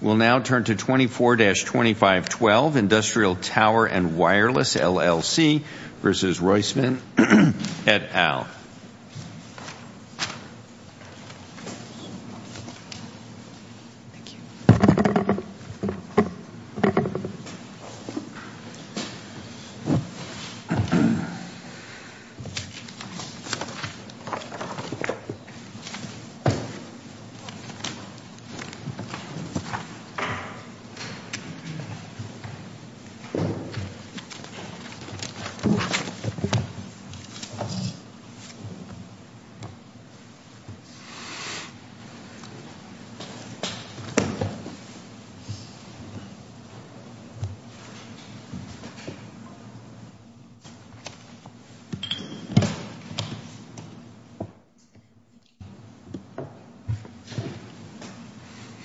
We'll now turn to 24-2512 Industrial Tower and Wireless, LLC v. Roisman et al.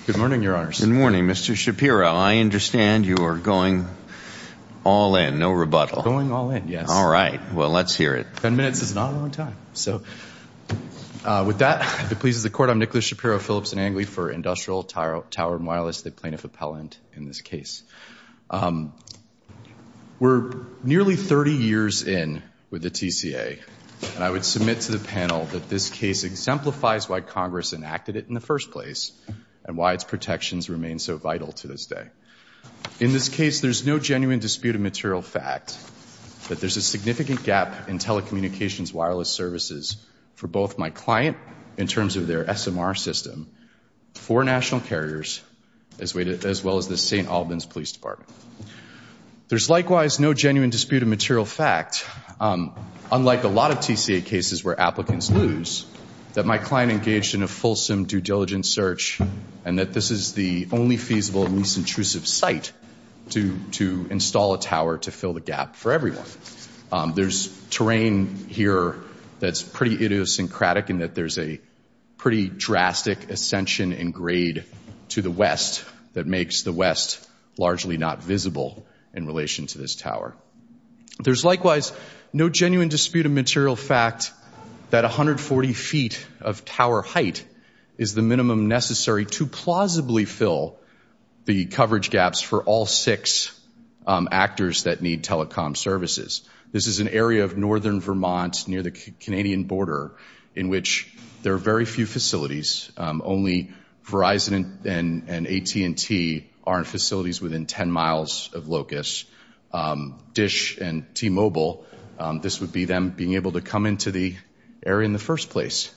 Good morning, Your Honors. Good morning, Mr. Shapiro. I understand you are going all in, no rebuttal. Going all in, yes. All right. Well, let's hear it. Ten minutes is not a long time. So with that, if it pleases the Court, I'm Nicholas Shapiro, Phillips & Angley for Industrial Tower and Wireless, the plaintiff appellant in this case. We're nearly 30 years in with the TCA, and I would submit to the panel that this case exemplifies why Congress enacted it in the first place and why its protections remain so vital to this day. In this case, there's no genuine dispute of material fact that there's a significant gap in telecommunications wireless services for both my client, in terms of their SMR system, for national carriers, as well as the St. Albans Police Department. There's likewise no genuine dispute of material fact, unlike a lot of TCA cases where applicants lose, that my client engaged in a fulsome due diligence search and that this is the only feasible and least intrusive site to install a tower to fill the gap for everyone. There's terrain here that's pretty idiosyncratic in that there's a pretty drastic ascension and grade to the west that makes the west largely not visible in relation to this tower. There's likewise no genuine dispute of material fact that 140 feet of tower height is the minimum necessary to plausibly fill the coverage gaps for all six actors that need telecom services. This is an area of northern Vermont near the Canadian border in which there are very few only Verizon and AT&T are in facilities within 10 miles of LOCUS. DISH and T-Mobile, this would be them being able to come into the area in the first place.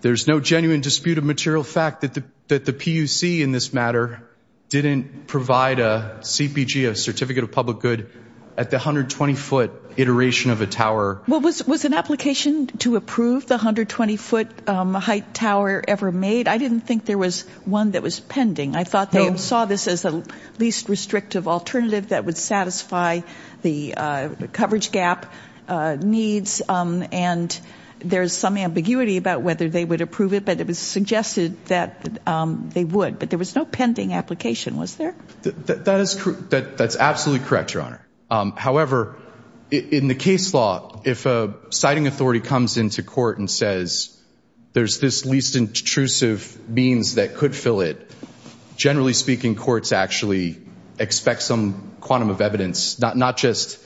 There's no genuine dispute of material fact that the PUC in this matter didn't provide a CPG, a certificate of public good, at the 120 foot iteration of a tower. Was an application to approve the 120 foot height tower ever made? I didn't think there was one that was pending. I thought they saw this as the least restrictive alternative that would satisfy the coverage gap needs and there's some ambiguity about whether they would approve it, but it was suggested that they would. But there was no pending application, was there? That is true. That's absolutely correct, Your Honor. However, in the case law, if a citing authority comes into court and says, there's this least intrusive means that could fill it, generally speaking, courts actually expect some quantum of evidence, not just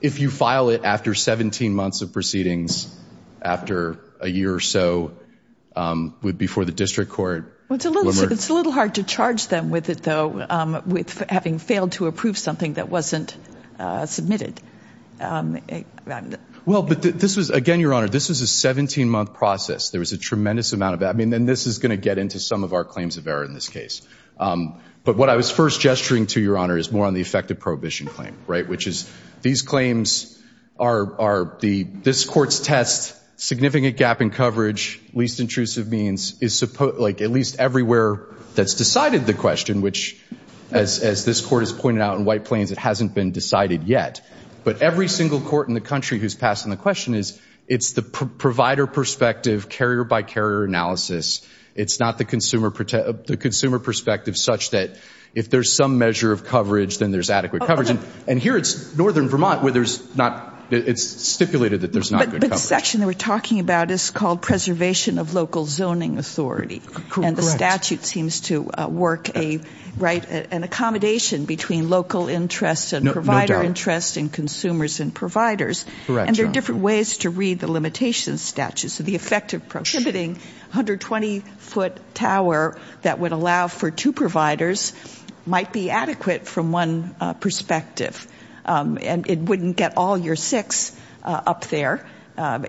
if you file it after 17 months of proceedings, after a year or so before the district court. It's a little hard to charge them with it though, with having failed to approve something that wasn't submitted. Well, but this was, again, Your Honor, this was a 17 month process. There was a tremendous amount of that. I mean, and this is going to get into some of our claims of error in this case. But what I was first gesturing to, Your Honor, is more on the effective prohibition claim, right? Which is these claims are the, this court's test, significant gap in coverage, least intrusive means, is at least everywhere that's decided the question, which as this court has pointed out in White Plains, it hasn't been decided yet. But every single court in the country who's passing the question is, it's the provider perspective, carrier by carrier analysis. It's not the consumer perspective such that if there's some measure of coverage, then there's adequate coverage. And here it's Northern Vermont where there's not, it's stipulated that there's not good coverage. But the section that we're talking about is called preservation of local zoning authority. And the statute seems to work a, right, an accommodation between local interest and provider interest and consumers and providers. And there are different ways to read the limitation statute. So the effective prohibiting 120 foot tower that would allow for two providers might be adequate from one perspective. And it wouldn't get all your six up there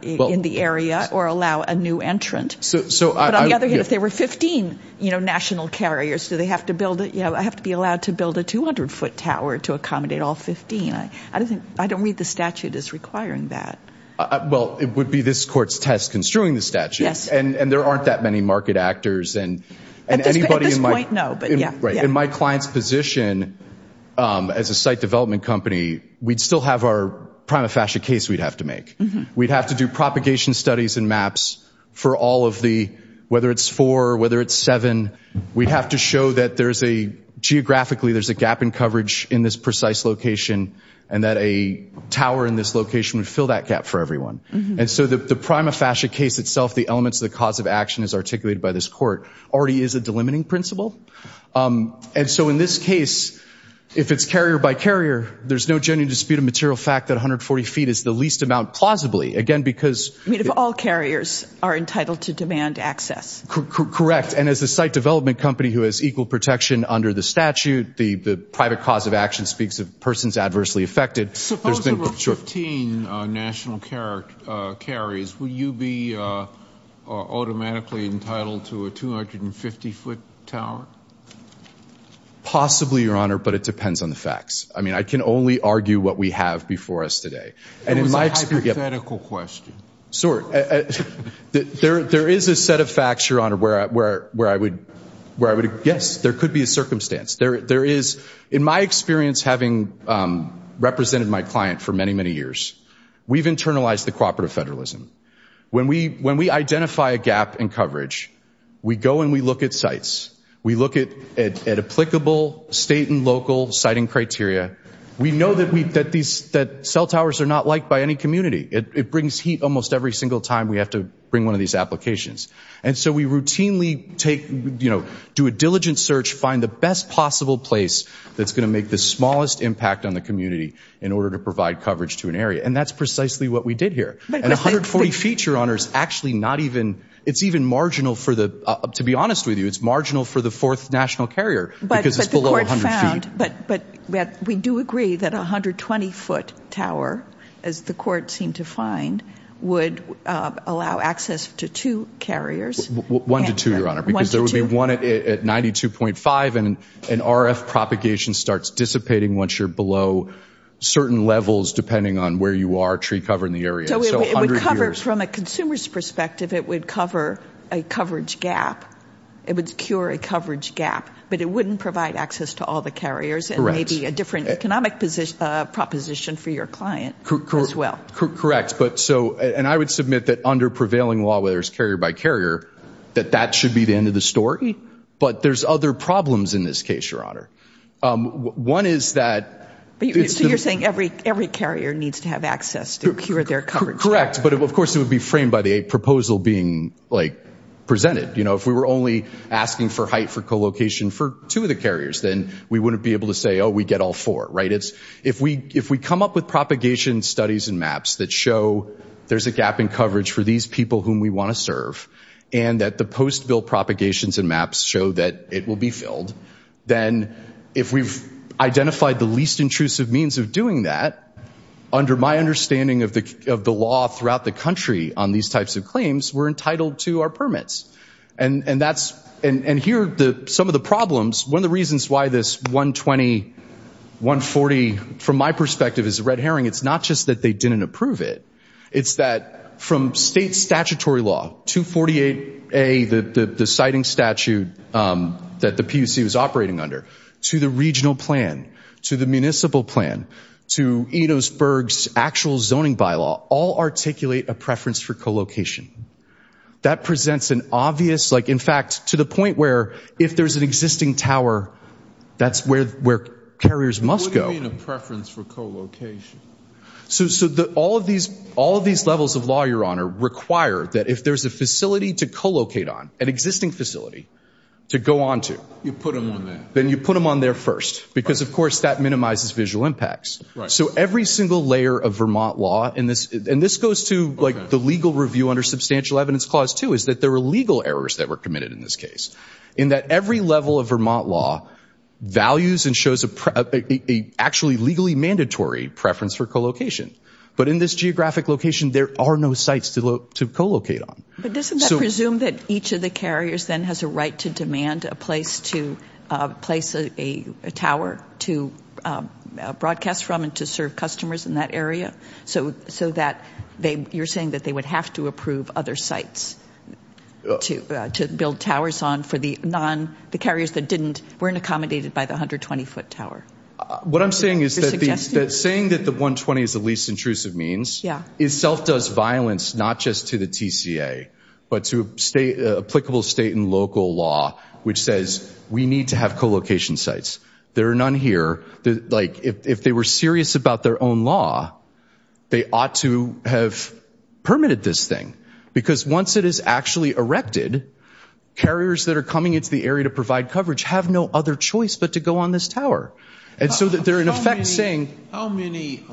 in the area or allow a new entrant. So, but on the other hand, if there were 15, you know, national carriers, do they have to build it? You know, I have to be allowed to build a 200 foot tower to accommodate all 15. I don't think, I don't read the statute as requiring that. Well, it would be this court's test construing the statute and there aren't that many market actors and anybody in my client's position as a site development company, we'd still have our prima facie case we'd have to make. We'd have to do propagation studies and maps for all of the, whether it's four, whether it's seven, we'd have to show that there's a geographically, there's a gap in coverage in this precise location and that a tower in this location would fill that gap for everyone. And so the prima facie case itself, the elements of the cause of action is articulated by this court already is a delimiting principle. And so in this case, if it's carrier by carrier, there's no genuine dispute of material fact that 140 feet is the least amount plausibly again, because I mean, if all carriers are entitled to demand access, correct. And as a site development company who has equal protection under the statute, the private cause of action speaks of persons adversely affected. Suppose there were 15 national carriers, would you be automatically entitled to a 250 foot tower? Possibly, your Honor, but it depends on the facts. I mean, I can only argue what we have before us today. It was a hypothetical question. Sort. There, there is a set of facts, your Honor, where, where, where I would, where I would, yes, there could be a circumstance. There, there is in my experience, having represented my client for many, many years, we've internalized the cooperative federalism. When we, when we identify a gap in coverage, we go and we look at sites. We look at, at, at applicable state and local siting criteria. We know that we, that these, that cell towers are not liked by any community. It brings heat almost every single time we have to bring one of these applications. And so we routinely take, you know, do a diligent search, find the best possible place that's going to make the smallest impact on the community in order to provide coverage to an area. And that's precisely what we did here. And 140 feet, your Honor, is actually not even, it's even marginal for the, to be honest with you, it's marginal for the fourth national carrier because it's below 100 feet. But, but we do agree that 120 foot tower, as the court seemed to find, would allow access to two carriers. One to two, your Honor, because there would be one at 92.5 and an RF propagation starts dissipating once you're below certain levels, depending on where you are, tree cover in the area. So it would cover, from a consumer's perspective, it would cover a coverage gap. It would cure a coverage gap, but it wouldn't provide access to all the carriers and maybe a different economic position, proposition for your client as well. Correct. But so, and I would submit that under prevailing law, whether it's carrier by carrier, that that should be the end of the story. But there's other problems in this case, your Honor. One is that... You're saying every carrier needs to have access to cure their coverage. Correct. But of course it would be framed by the proposal being presented. If we were only asking for height for co-location for two of the carriers, then we wouldn't be able to say, oh, we get all four, right? If we come up with propagation studies and maps that show there's a gap in coverage for these people whom we want to serve, and that the post-bill propagations and maps show that it will be filled, then if we've identified the least intrusive means of doing that, under my understanding of the law throughout the country on these types of claims, we're entitled to our permits. And here, some of the problems, one of the reasons why this 120, 140, from my perspective, is a red herring, it's not just they didn't approve it, it's that from state statutory law, 248A, the siting statute that the PUC was operating under, to the regional plan, to the municipal plan, to Edosburg's actual zoning bylaw, all articulate a preference for co-location. That presents an obvious... In fact, to the point where if there's an existing tower, that's where carriers must go. What do you mean a preference for co-location? So all of these levels of law, Your Honor, require that if there's a facility to co-locate on, an existing facility, to go onto... You put them on there. Then you put them on there first, because of course, that minimizes visual impacts. So every single layer of Vermont law, and this goes to the legal review under Substantial Evidence Clause 2, is that there were legal errors that were committed in this case, in that every level of Vermont law values and shows a actually legally mandatory preference for co-location. But in this geographic location, there are no sites to co-locate on. But doesn't that presume that each of the carriers then has a right to demand a place to place a tower to broadcast from and to serve customers in that area, so that you're saying they would have to approve other sites to build towers on for the carriers that weren't accommodated by the 120-foot tower? What I'm saying is that saying that the 120 is the least intrusive means itself does violence, not just to the TCA, but to applicable state and local law, which says we need to have co-location sites. There are none here. If they were serious about their own law, they ought to have permitted this thing. Because once it is actually erected, carriers that are coming into the area to provide coverage have no other choice but to go on this tower. And so they're in effect saying... How many,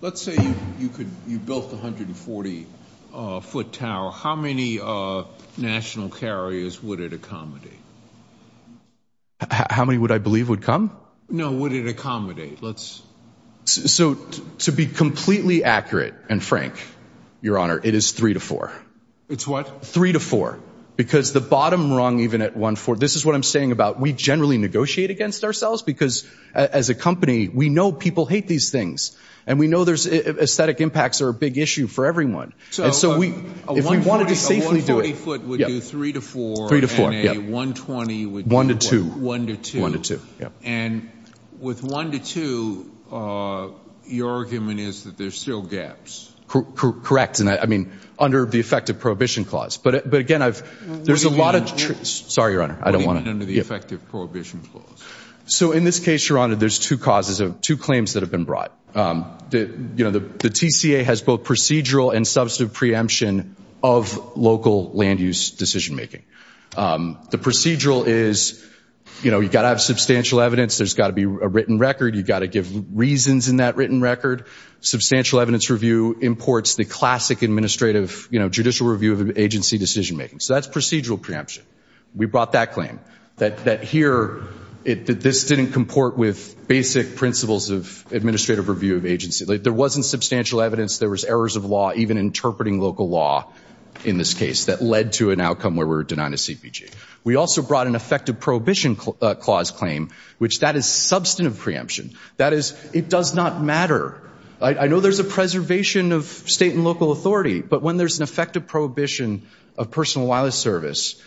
let's say you built a 140-foot tower, how many national carriers would it accommodate? How many would I believe would come? No, would it accommodate? Let's... So to be completely accurate and frank, Your Honor, it is three to four. It's what? Three to four. Because the bottom rung, even at 140, this is what I'm saying about, we generally negotiate against ourselves because as a company, we know people hate these things. And we know there's aesthetic impacts are a big issue for everyone. So a 140-foot would do three to four and a 120 would do one to two. And with one to two, your argument is that there's still gaps. Correct. And I mean, under the effective prohibition clause. But again, there's a lot of... Sorry, Your Honor, I don't want to... What do you mean under the effective prohibition clause? So in this case, Your Honor, there's two claims that have been brought. The TCA has both procedural and substantive preemption of local land use decision-making. The procedural is, you know, you've got to have substantial evidence. There's got to be a written record. You've got to give reasons in that written record. Substantial evidence review imports the classic administrative, you know, judicial review of agency decision-making. So that's procedural preemption. We brought that claim that here, this didn't comport with basic principles of administrative review of agency. There wasn't substantial evidence. There was errors of law, even interpreting local law in this case that led to an outcome where we were denied a CPG. We also brought an effective prohibition clause claim, which that is substantive preemption. That is, it does not matter. I know there's a preservation of state and local authority, but when there's an effective prohibition of personal wireless service,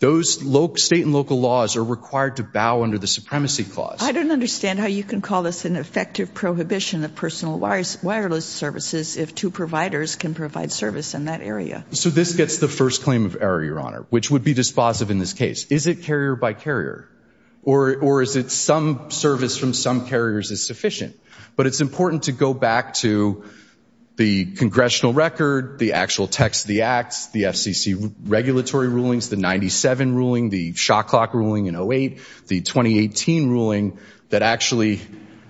those state and local laws are required to bow under the supremacy clause. I don't understand how you can call this an effective prohibition of personal wireless services if two providers can provide service in that area. So this gets the first claim of error, Your Honor, which would be dispositive in this case. Is it carrier by carrier? Or is it some service from some carriers is sufficient? But it's important to go back to the congressional record, the actual text of the acts, the FCC regulatory rulings, the 97 ruling, the shot clock ruling in 08, the 2018 ruling that actually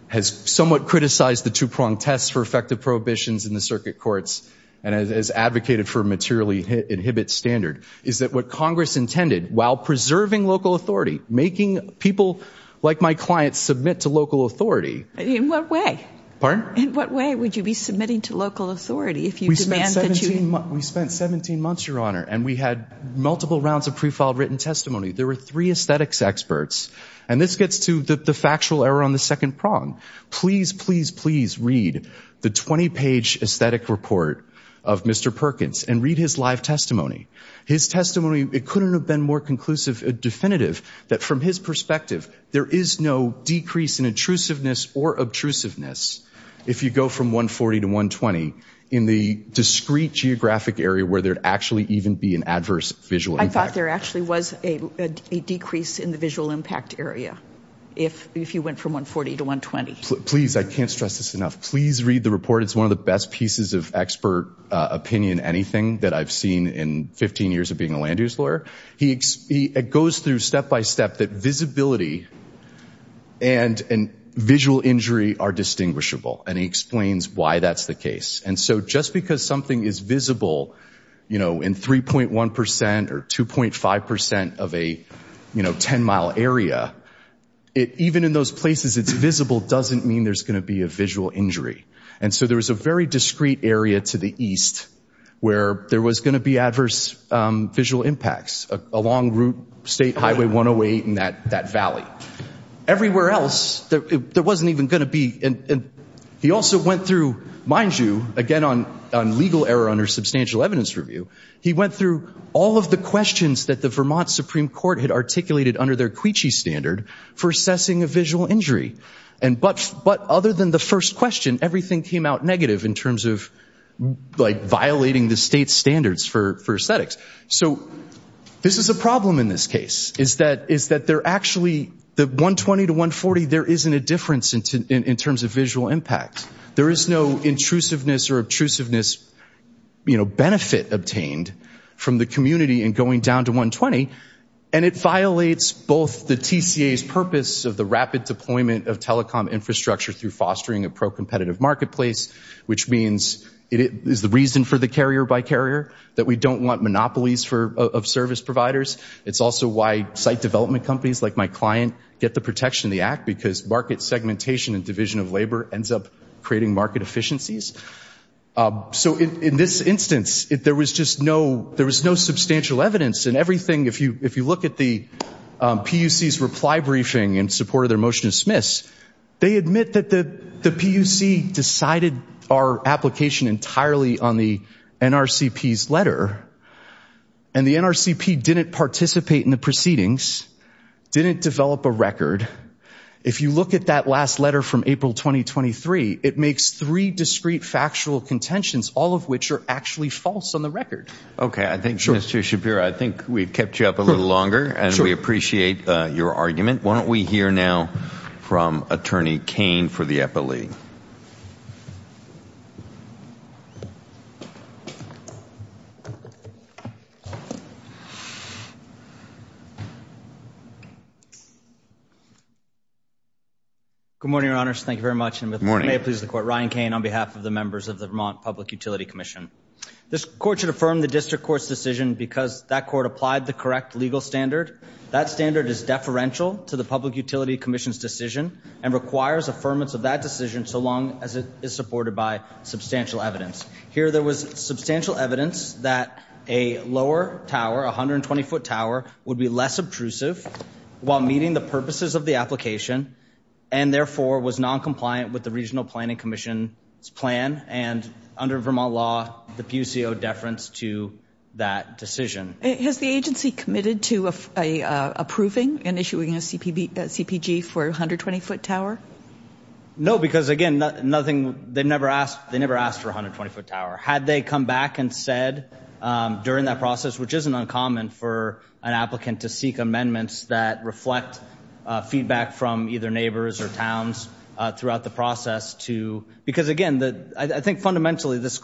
has somewhat criticized the two-pronged tests for effective prohibitions in the circuit courts and has advocated for materially inhibit standard, is that what Congress intended while preserving local authority, making people like my clients submit to local authority. In what way? Pardon? In what way would you be submitting to local authority if you demand that you... We spent 17 months, Your Honor, and we had multiple rounds of pre-filed written testimony. There were three aesthetics experts. And this gets to the factual error on the second prong. Please, please, please read the 20-page aesthetic report of Mr. Perkins and read his live testimony. His testimony, it couldn't have been more conclusive, definitive, that from his perspective, there is no decrease in intrusiveness or obtrusiveness if you go from 140 to 120 in the discrete geographic area where there'd actually even be an adverse visual impact. There actually was a decrease in the visual impact area if you went from 140 to 120. Please, I can't stress this enough. Please read the report. It's one of the best pieces of expert opinion, anything, that I've seen in 15 years of being a land use lawyer. He goes through step-by-step that visibility and visual injury are distinguishable. And he explains why that's the case. And so just because something is visible in 3.1% or 2.5% of a 10-mile area, even in those places it's visible doesn't mean there's going to be a visual injury. And so there was a very discrete area to the east where there was going to be adverse visual impacts along Route State Highway 108 and that valley. Everywhere else, there wasn't even going to be. And he also went through, mind you, again, on legal error under substantial evidence review, he went through all of the questions that the Vermont Supreme Court had articulated under their Cuici standard for assessing a visual injury. But other than the first question, everything came out negative in terms of violating the state's standards for aesthetics. So this is a problem in this case, is that there actually, the 120 to 140, there isn't a difference in terms of visual impact. There is no intrusiveness or obtrusiveness, you know, benefit obtained from the community in going down to 120. And it violates both the TCA's purpose of the rapid deployment of telecom infrastructure through fostering a pro-competitive marketplace, which means it is the reason for the carrier by carrier, that we don't want monopolies of service providers. It's also why site development companies like my client get the protection of the Act, because market segmentation and division of labor ends up creating market efficiencies. So in this instance, there was just no, there was no substantial evidence. And everything, if you look at the PUC's reply briefing in support of their motion to dismiss, they admit that the PUC decided our application entirely on the NRCP's letter. And the NRCP didn't participate in the proceedings, didn't develop a record. If you look at that last letter from April 2023, it makes three discrete factual contentions, all of which are actually false on the record. Okay, I think, Mr. Shabir, I think we've kept you up a little longer, and we appreciate your argument. Why don't we hear now from Attorney Cain for the FLE. Good morning, Your Honors. Thank you very much, and may it please the Court. Ryan Cain on behalf of the members of the Vermont Public Utility Commission. This Court should affirm the District Court's decision because that Court applied the correct legal standard. That standard is deferential to the Public Utility Commission's decision and requires affirmance of that decision so long as it is supported by substantial evidence. Here there was substantial evidence that a lower tower, a 120-foot tower, would be less obtrusive while meeting the purposes of the application and therefore was non-compliant with the Regional Planning Commission's plan. And under Vermont law, the PUC owed deference to that decision. Has the agency committed to approving and issuing a CPG for a 120-foot tower? No, because again, they never asked for a 120-foot tower. Had they come back and said during that process, which isn't uncommon for an applicant to seek amendments that reflect feedback from either neighbors or towns throughout the process, because again, I think fundamentally this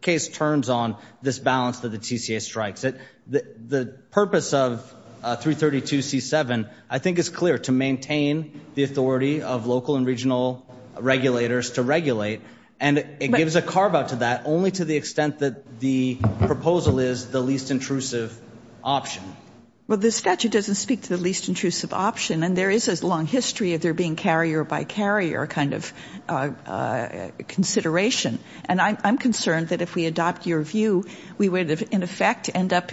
case turns on this balance that the TCA strikes. The purpose of 332C7 I think is clear, to maintain the authority of local and regional regulators to regulate. And it gives a carve-out to that only to the extent that the proposal is the least intrusive option. Well, the statute doesn't speak to the least intrusive option and there is this long history of there being carrier by carrier kind of consideration. And I'm concerned that if we adopt your view, we would in effect end up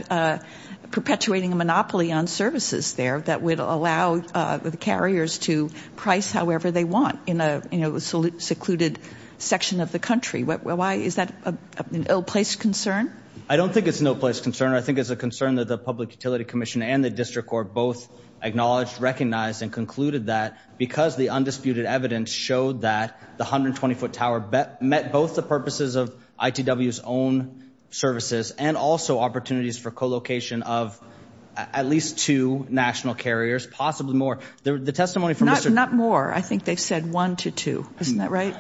perpetuating a monopoly on services there that would allow the carriers to price however they want in a secluded section of the country. Why is that an ill-placed concern? I don't think it's an ill-placed concern. I think it's a concern that the Public Utility Commission and the District Court both acknowledged, recognized, and concluded that because the undisputed evidence showed that the 120-foot tower met both the purposes of ITW's own services and also opportunities for co-location of at least two national carriers, possibly more. Not more. I think they've said one to two. Isn't that right?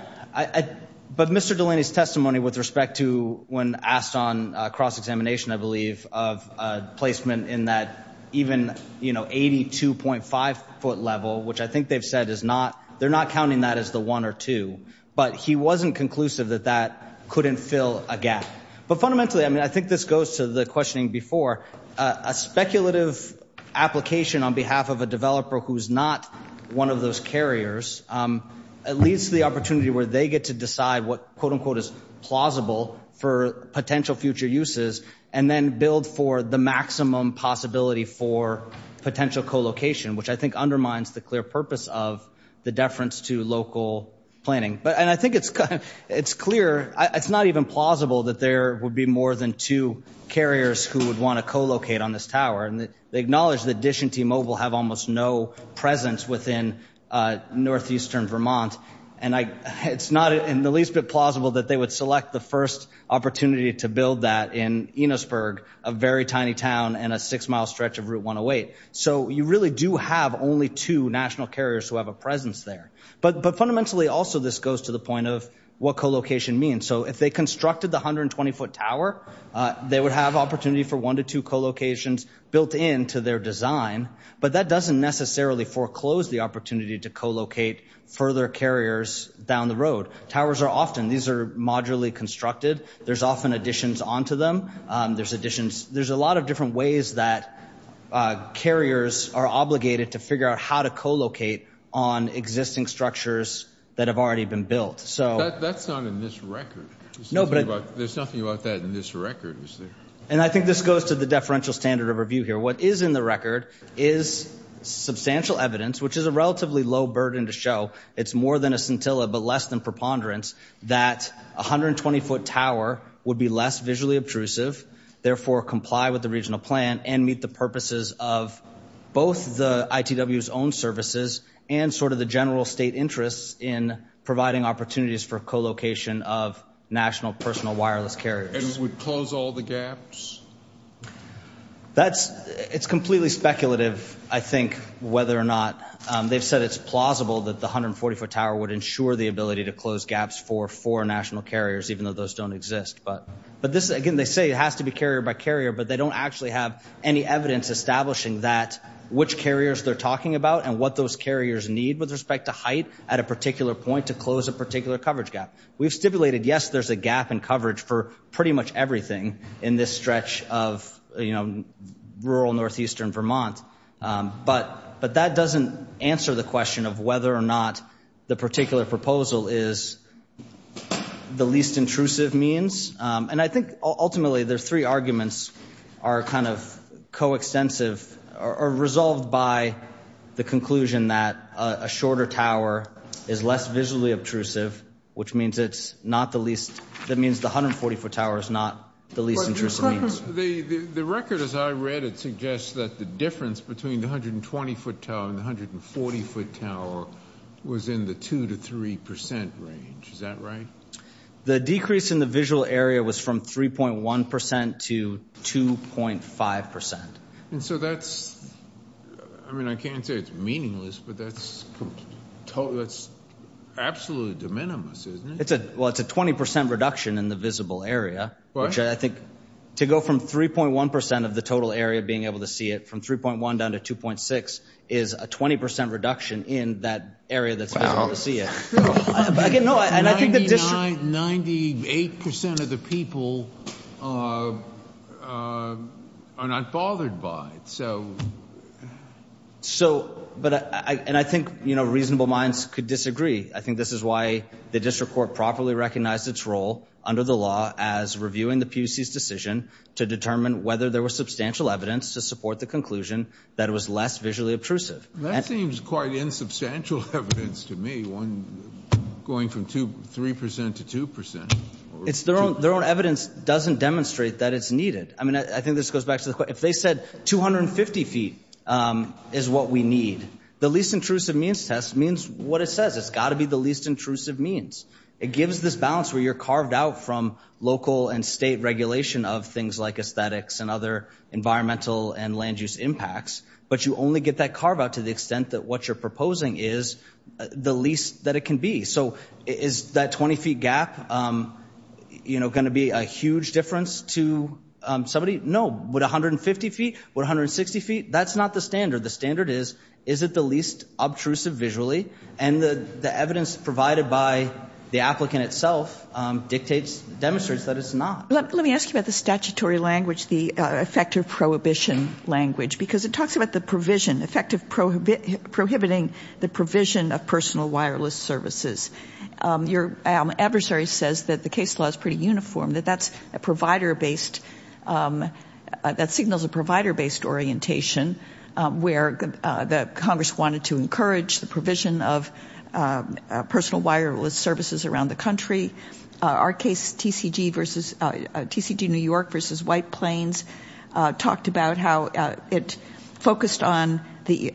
But Mr. Delaney's testimony with respect to when asked on cross-examination, I believe, of placement in that even, you know, 82.5-foot level, which I think they've said is not, they're not counting that as the one or two. But he wasn't conclusive that that couldn't fill a gap. But fundamentally, I mean, I think this goes to the questioning before, a speculative application on behalf of a developer who's not one of those carriers, it leads to the opportunity where they get to decide what, quote-unquote, is plausible for potential future uses and then build for the maximum possibility for potential co-location, which I think undermines the clear purpose of the deference to local planning. But, and I think it's clear, it's not even plausible that there would be more than two carriers who would want to co-locate on this tower. And they acknowledge that Dish and T-Mobile have almost no presence within northeastern Vermont. And it's not in the least bit plausible that they would select the first opportunity to build that in Enosburg, a very tiny town and a six-mile stretch of Route 108. So you really do have only two national carriers who have a presence there. But fundamentally, also, this goes to the point of what co-location means. So if they constructed the 120-foot tower, they would have opportunity for one to two co-locations built into their design. But that doesn't necessarily foreclose the opportunity to co-locate further carriers down the road. Towers are often, these are modularly constructed. There's often additions onto them. There's additions. There's a lot of different ways that carriers are obligated to figure out how to co-locate on existing structures that have already been built. But that's not in this record. There's nothing about that in this record, is there? And I think this goes to the deferential standard of review here. What is in the record is substantial evidence, which is a relatively low burden to show. It's more than a scintilla, but less than preponderance, that a 120-foot tower would be less visually obtrusive, therefore comply with the regional plan and meet the purposes of both the ITW's own services and sort of the general state interests in providing opportunities for co-location of national personal wireless carriers. And it would close all the gaps? That's, it's completely speculative, I think, whether or not. They've said it's plausible that the 140-foot tower would ensure the ability to close gaps for four national carriers, even though those don't exist. But this, again, they say it has to be carrier by carrier, but they don't actually have any evidence establishing that, which carriers they're talking about and what those carriers need with respect to height at a particular point to close a particular coverage gap. We've stipulated, yes, there's a gap in coverage for pretty much everything in this stretch of, you know, rural northeastern Vermont. But that doesn't answer the question of whether or not the particular proposal is the least intrusive means. And I think, ultimately, the three arguments are kind of coextensive, are resolved by the conclusion that a shorter tower is less visually obtrusive, which means it's not the least, that means the 140-foot tower is not the least intrusive means. The record, as I read it, suggests that the difference between the 120-foot tower and the 140-foot tower is less visibly obtrusive than the 140-foot tower, which is not true. The decrease in the visual area was from 3.1% to 2.5%. And so that's, I mean, I can't say it's meaningless, but that's absolutely de minimis, isn't it? Well, it's a 20% reduction in the visible area, which I think to go from 3.1% of the total area being able to see it, from 3.1% down to 2.6% is a 20% reduction in that area that's visible to see it. No, and I think the district... Ninety-eight percent of the people are not bothered by it, so... So, and I think, you know, reasonable minds could disagree. I think this is why the district court properly recognized its role under the law as reviewing the PUC's decision to determine whether there was substantial evidence to support the conclusion that it was less visually obtrusive. That seems quite insubstantial evidence to me, going from 3% to 2%. It's their own evidence doesn't demonstrate that it's needed. I mean, I think this goes back to, if they said 250 feet is what we need, the least intrusive means test means what it says. It's got to be the least intrusive means. It gives this balance where you're carved out from local and state regulation of things like aesthetics and other environmental and land use impacts, but you only get that carve out to the extent that what you're proposing is the least that it can be. So, is that 20 feet gap, you know, going to be a huge difference to somebody? No. Would 150 feet? Would 160 feet? That's not the standard. The standard is, is it the least obtrusive visually? And the evidence provided by the applicant itself dictates, demonstrates that it's not. Let me ask you about the statutory language, the effective prohibition language, because it talks about the provision, effective prohibiting the provision of personal wireless services. Your adversary says that the case law is pretty uniform, that that's a provider-based, that signals a provider-based orientation, where the Congress wanted to encourage the provision of personal wireless services around the country. Our case, TCG versus, TCG New York versus White Plains, talked about how it focused on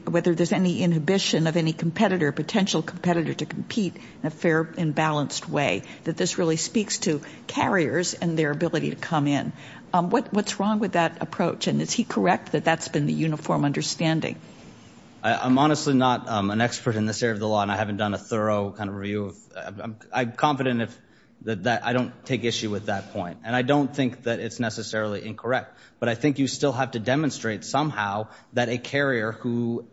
whether there's any inhibition of any competitor, potential competitor, to compete in a fair and balanced way, that this really speaks to carriers and their ability to come in. What's wrong with that approach? And is he correct that that's been the uniform understanding? I'm honestly not an expert in this area of the law, and I haven't done a thorough kind of review. I'm confident that I don't take issue with that point. And I don't think that it's necessarily incorrect. But I think you still have to demonstrate somehow that a carrier who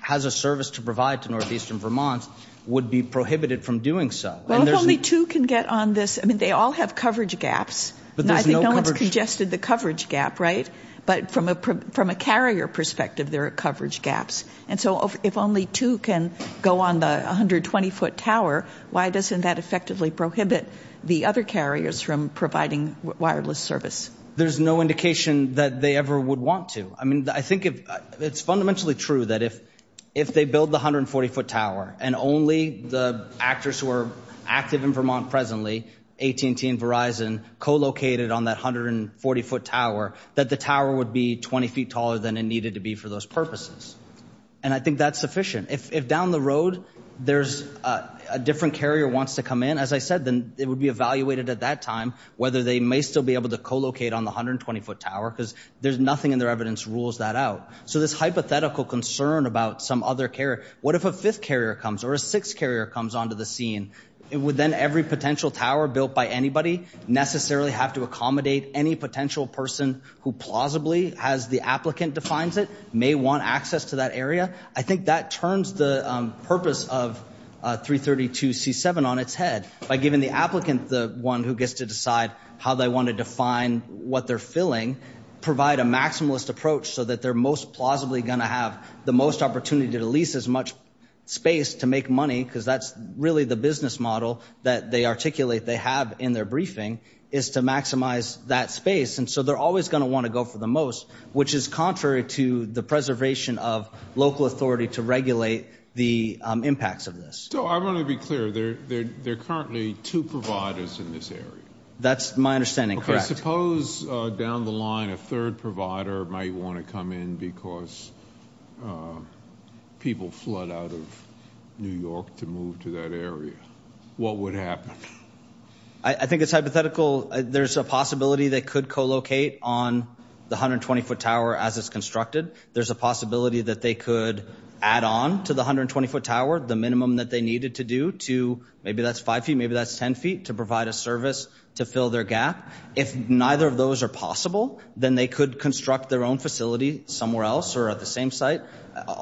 has a service to provide to Northeastern Vermont would be prohibited from doing so. Well, if only two can get on this, I mean, they all have coverage gaps. But there's no coverage. I think no one's congested the coverage gap, right? But from a carrier perspective, there are coverage gaps. And so if only two can go on the 120-foot tower, why doesn't that effectively prohibit the other carriers from providing wireless service? There's no indication that they ever would want to. I mean, I think it's fundamentally true that if they build the 140-foot tower and only the actors who are active in Vermont presently, AT&T and Verizon, co-located on that 140-foot tower, that the tower would be 20 feet taller than it needed to be for those purposes. And I think that's sufficient. If down the road there's a different carrier wants to come in, as I said, then it would be evaluated at that time whether they may still be able to co-locate on the 120-foot tower, because there's nothing in their evidence rules that out. So this hypothetical concern about some other carrier, what if a fifth carrier comes or a sixth carrier comes onto the scene? Would then every potential tower built by anybody necessarily have to accommodate any potential person who plausibly, as the applicant defines it, may want access to that area? I think that turns the purpose of 332C7 on its head. By giving the applicant the one who gets to decide how they want to define what they're filling, provide a maximalist approach so that they're most plausibly going to have the most opportunity to lease as much space to make money, because that's really the business model that they articulate they have in their briefing, is to maximize that space. And so they're always going to want to go for the most, which is contrary to the preservation of local authority to regulate the impacts of this. So I want to be clear. There are currently two providers in this area. That's my understanding, correct. Suppose down the line a third provider might want to come in because people flood out of New York to move to that area. What would happen? I think it's hypothetical. There's a possibility they could co-locate on the 120-foot tower as it's constructed. There's a possibility that they could add on to the 120-foot tower the minimum that they needed to do to, maybe that's 5 feet, maybe that's 10 feet, to provide a service to fill their gap. If neither of those are possible, then they could construct their own facility somewhere else or at the same site.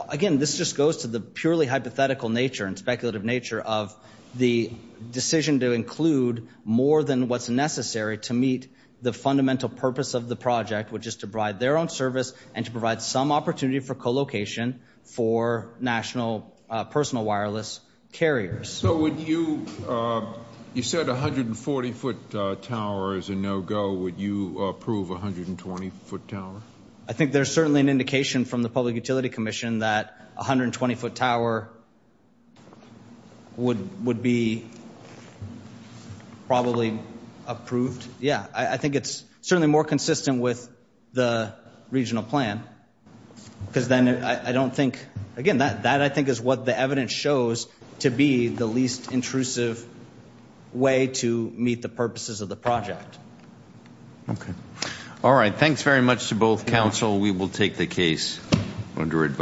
Again, this just goes to the purely hypothetical nature and speculative nature of the decision to include more than what's necessary to meet the fundamental purpose of the project, which is to provide their own service and to provide some opportunity for co-location for national personal wireless carriers. So would you, you said 140-foot tower is a no-go. Would you approve a 120-foot tower? I think there's certainly an indication from the Public Utility Commission that a 120-foot tower would be probably approved. Yeah, I think it's certainly more consistent with the regional plan because then I don't think, again, that I think is what the evidence shows to be the least intrusive way to meet the purposes of the project. Okay. All right. Thanks very much to both counsel. We will take the case under advice.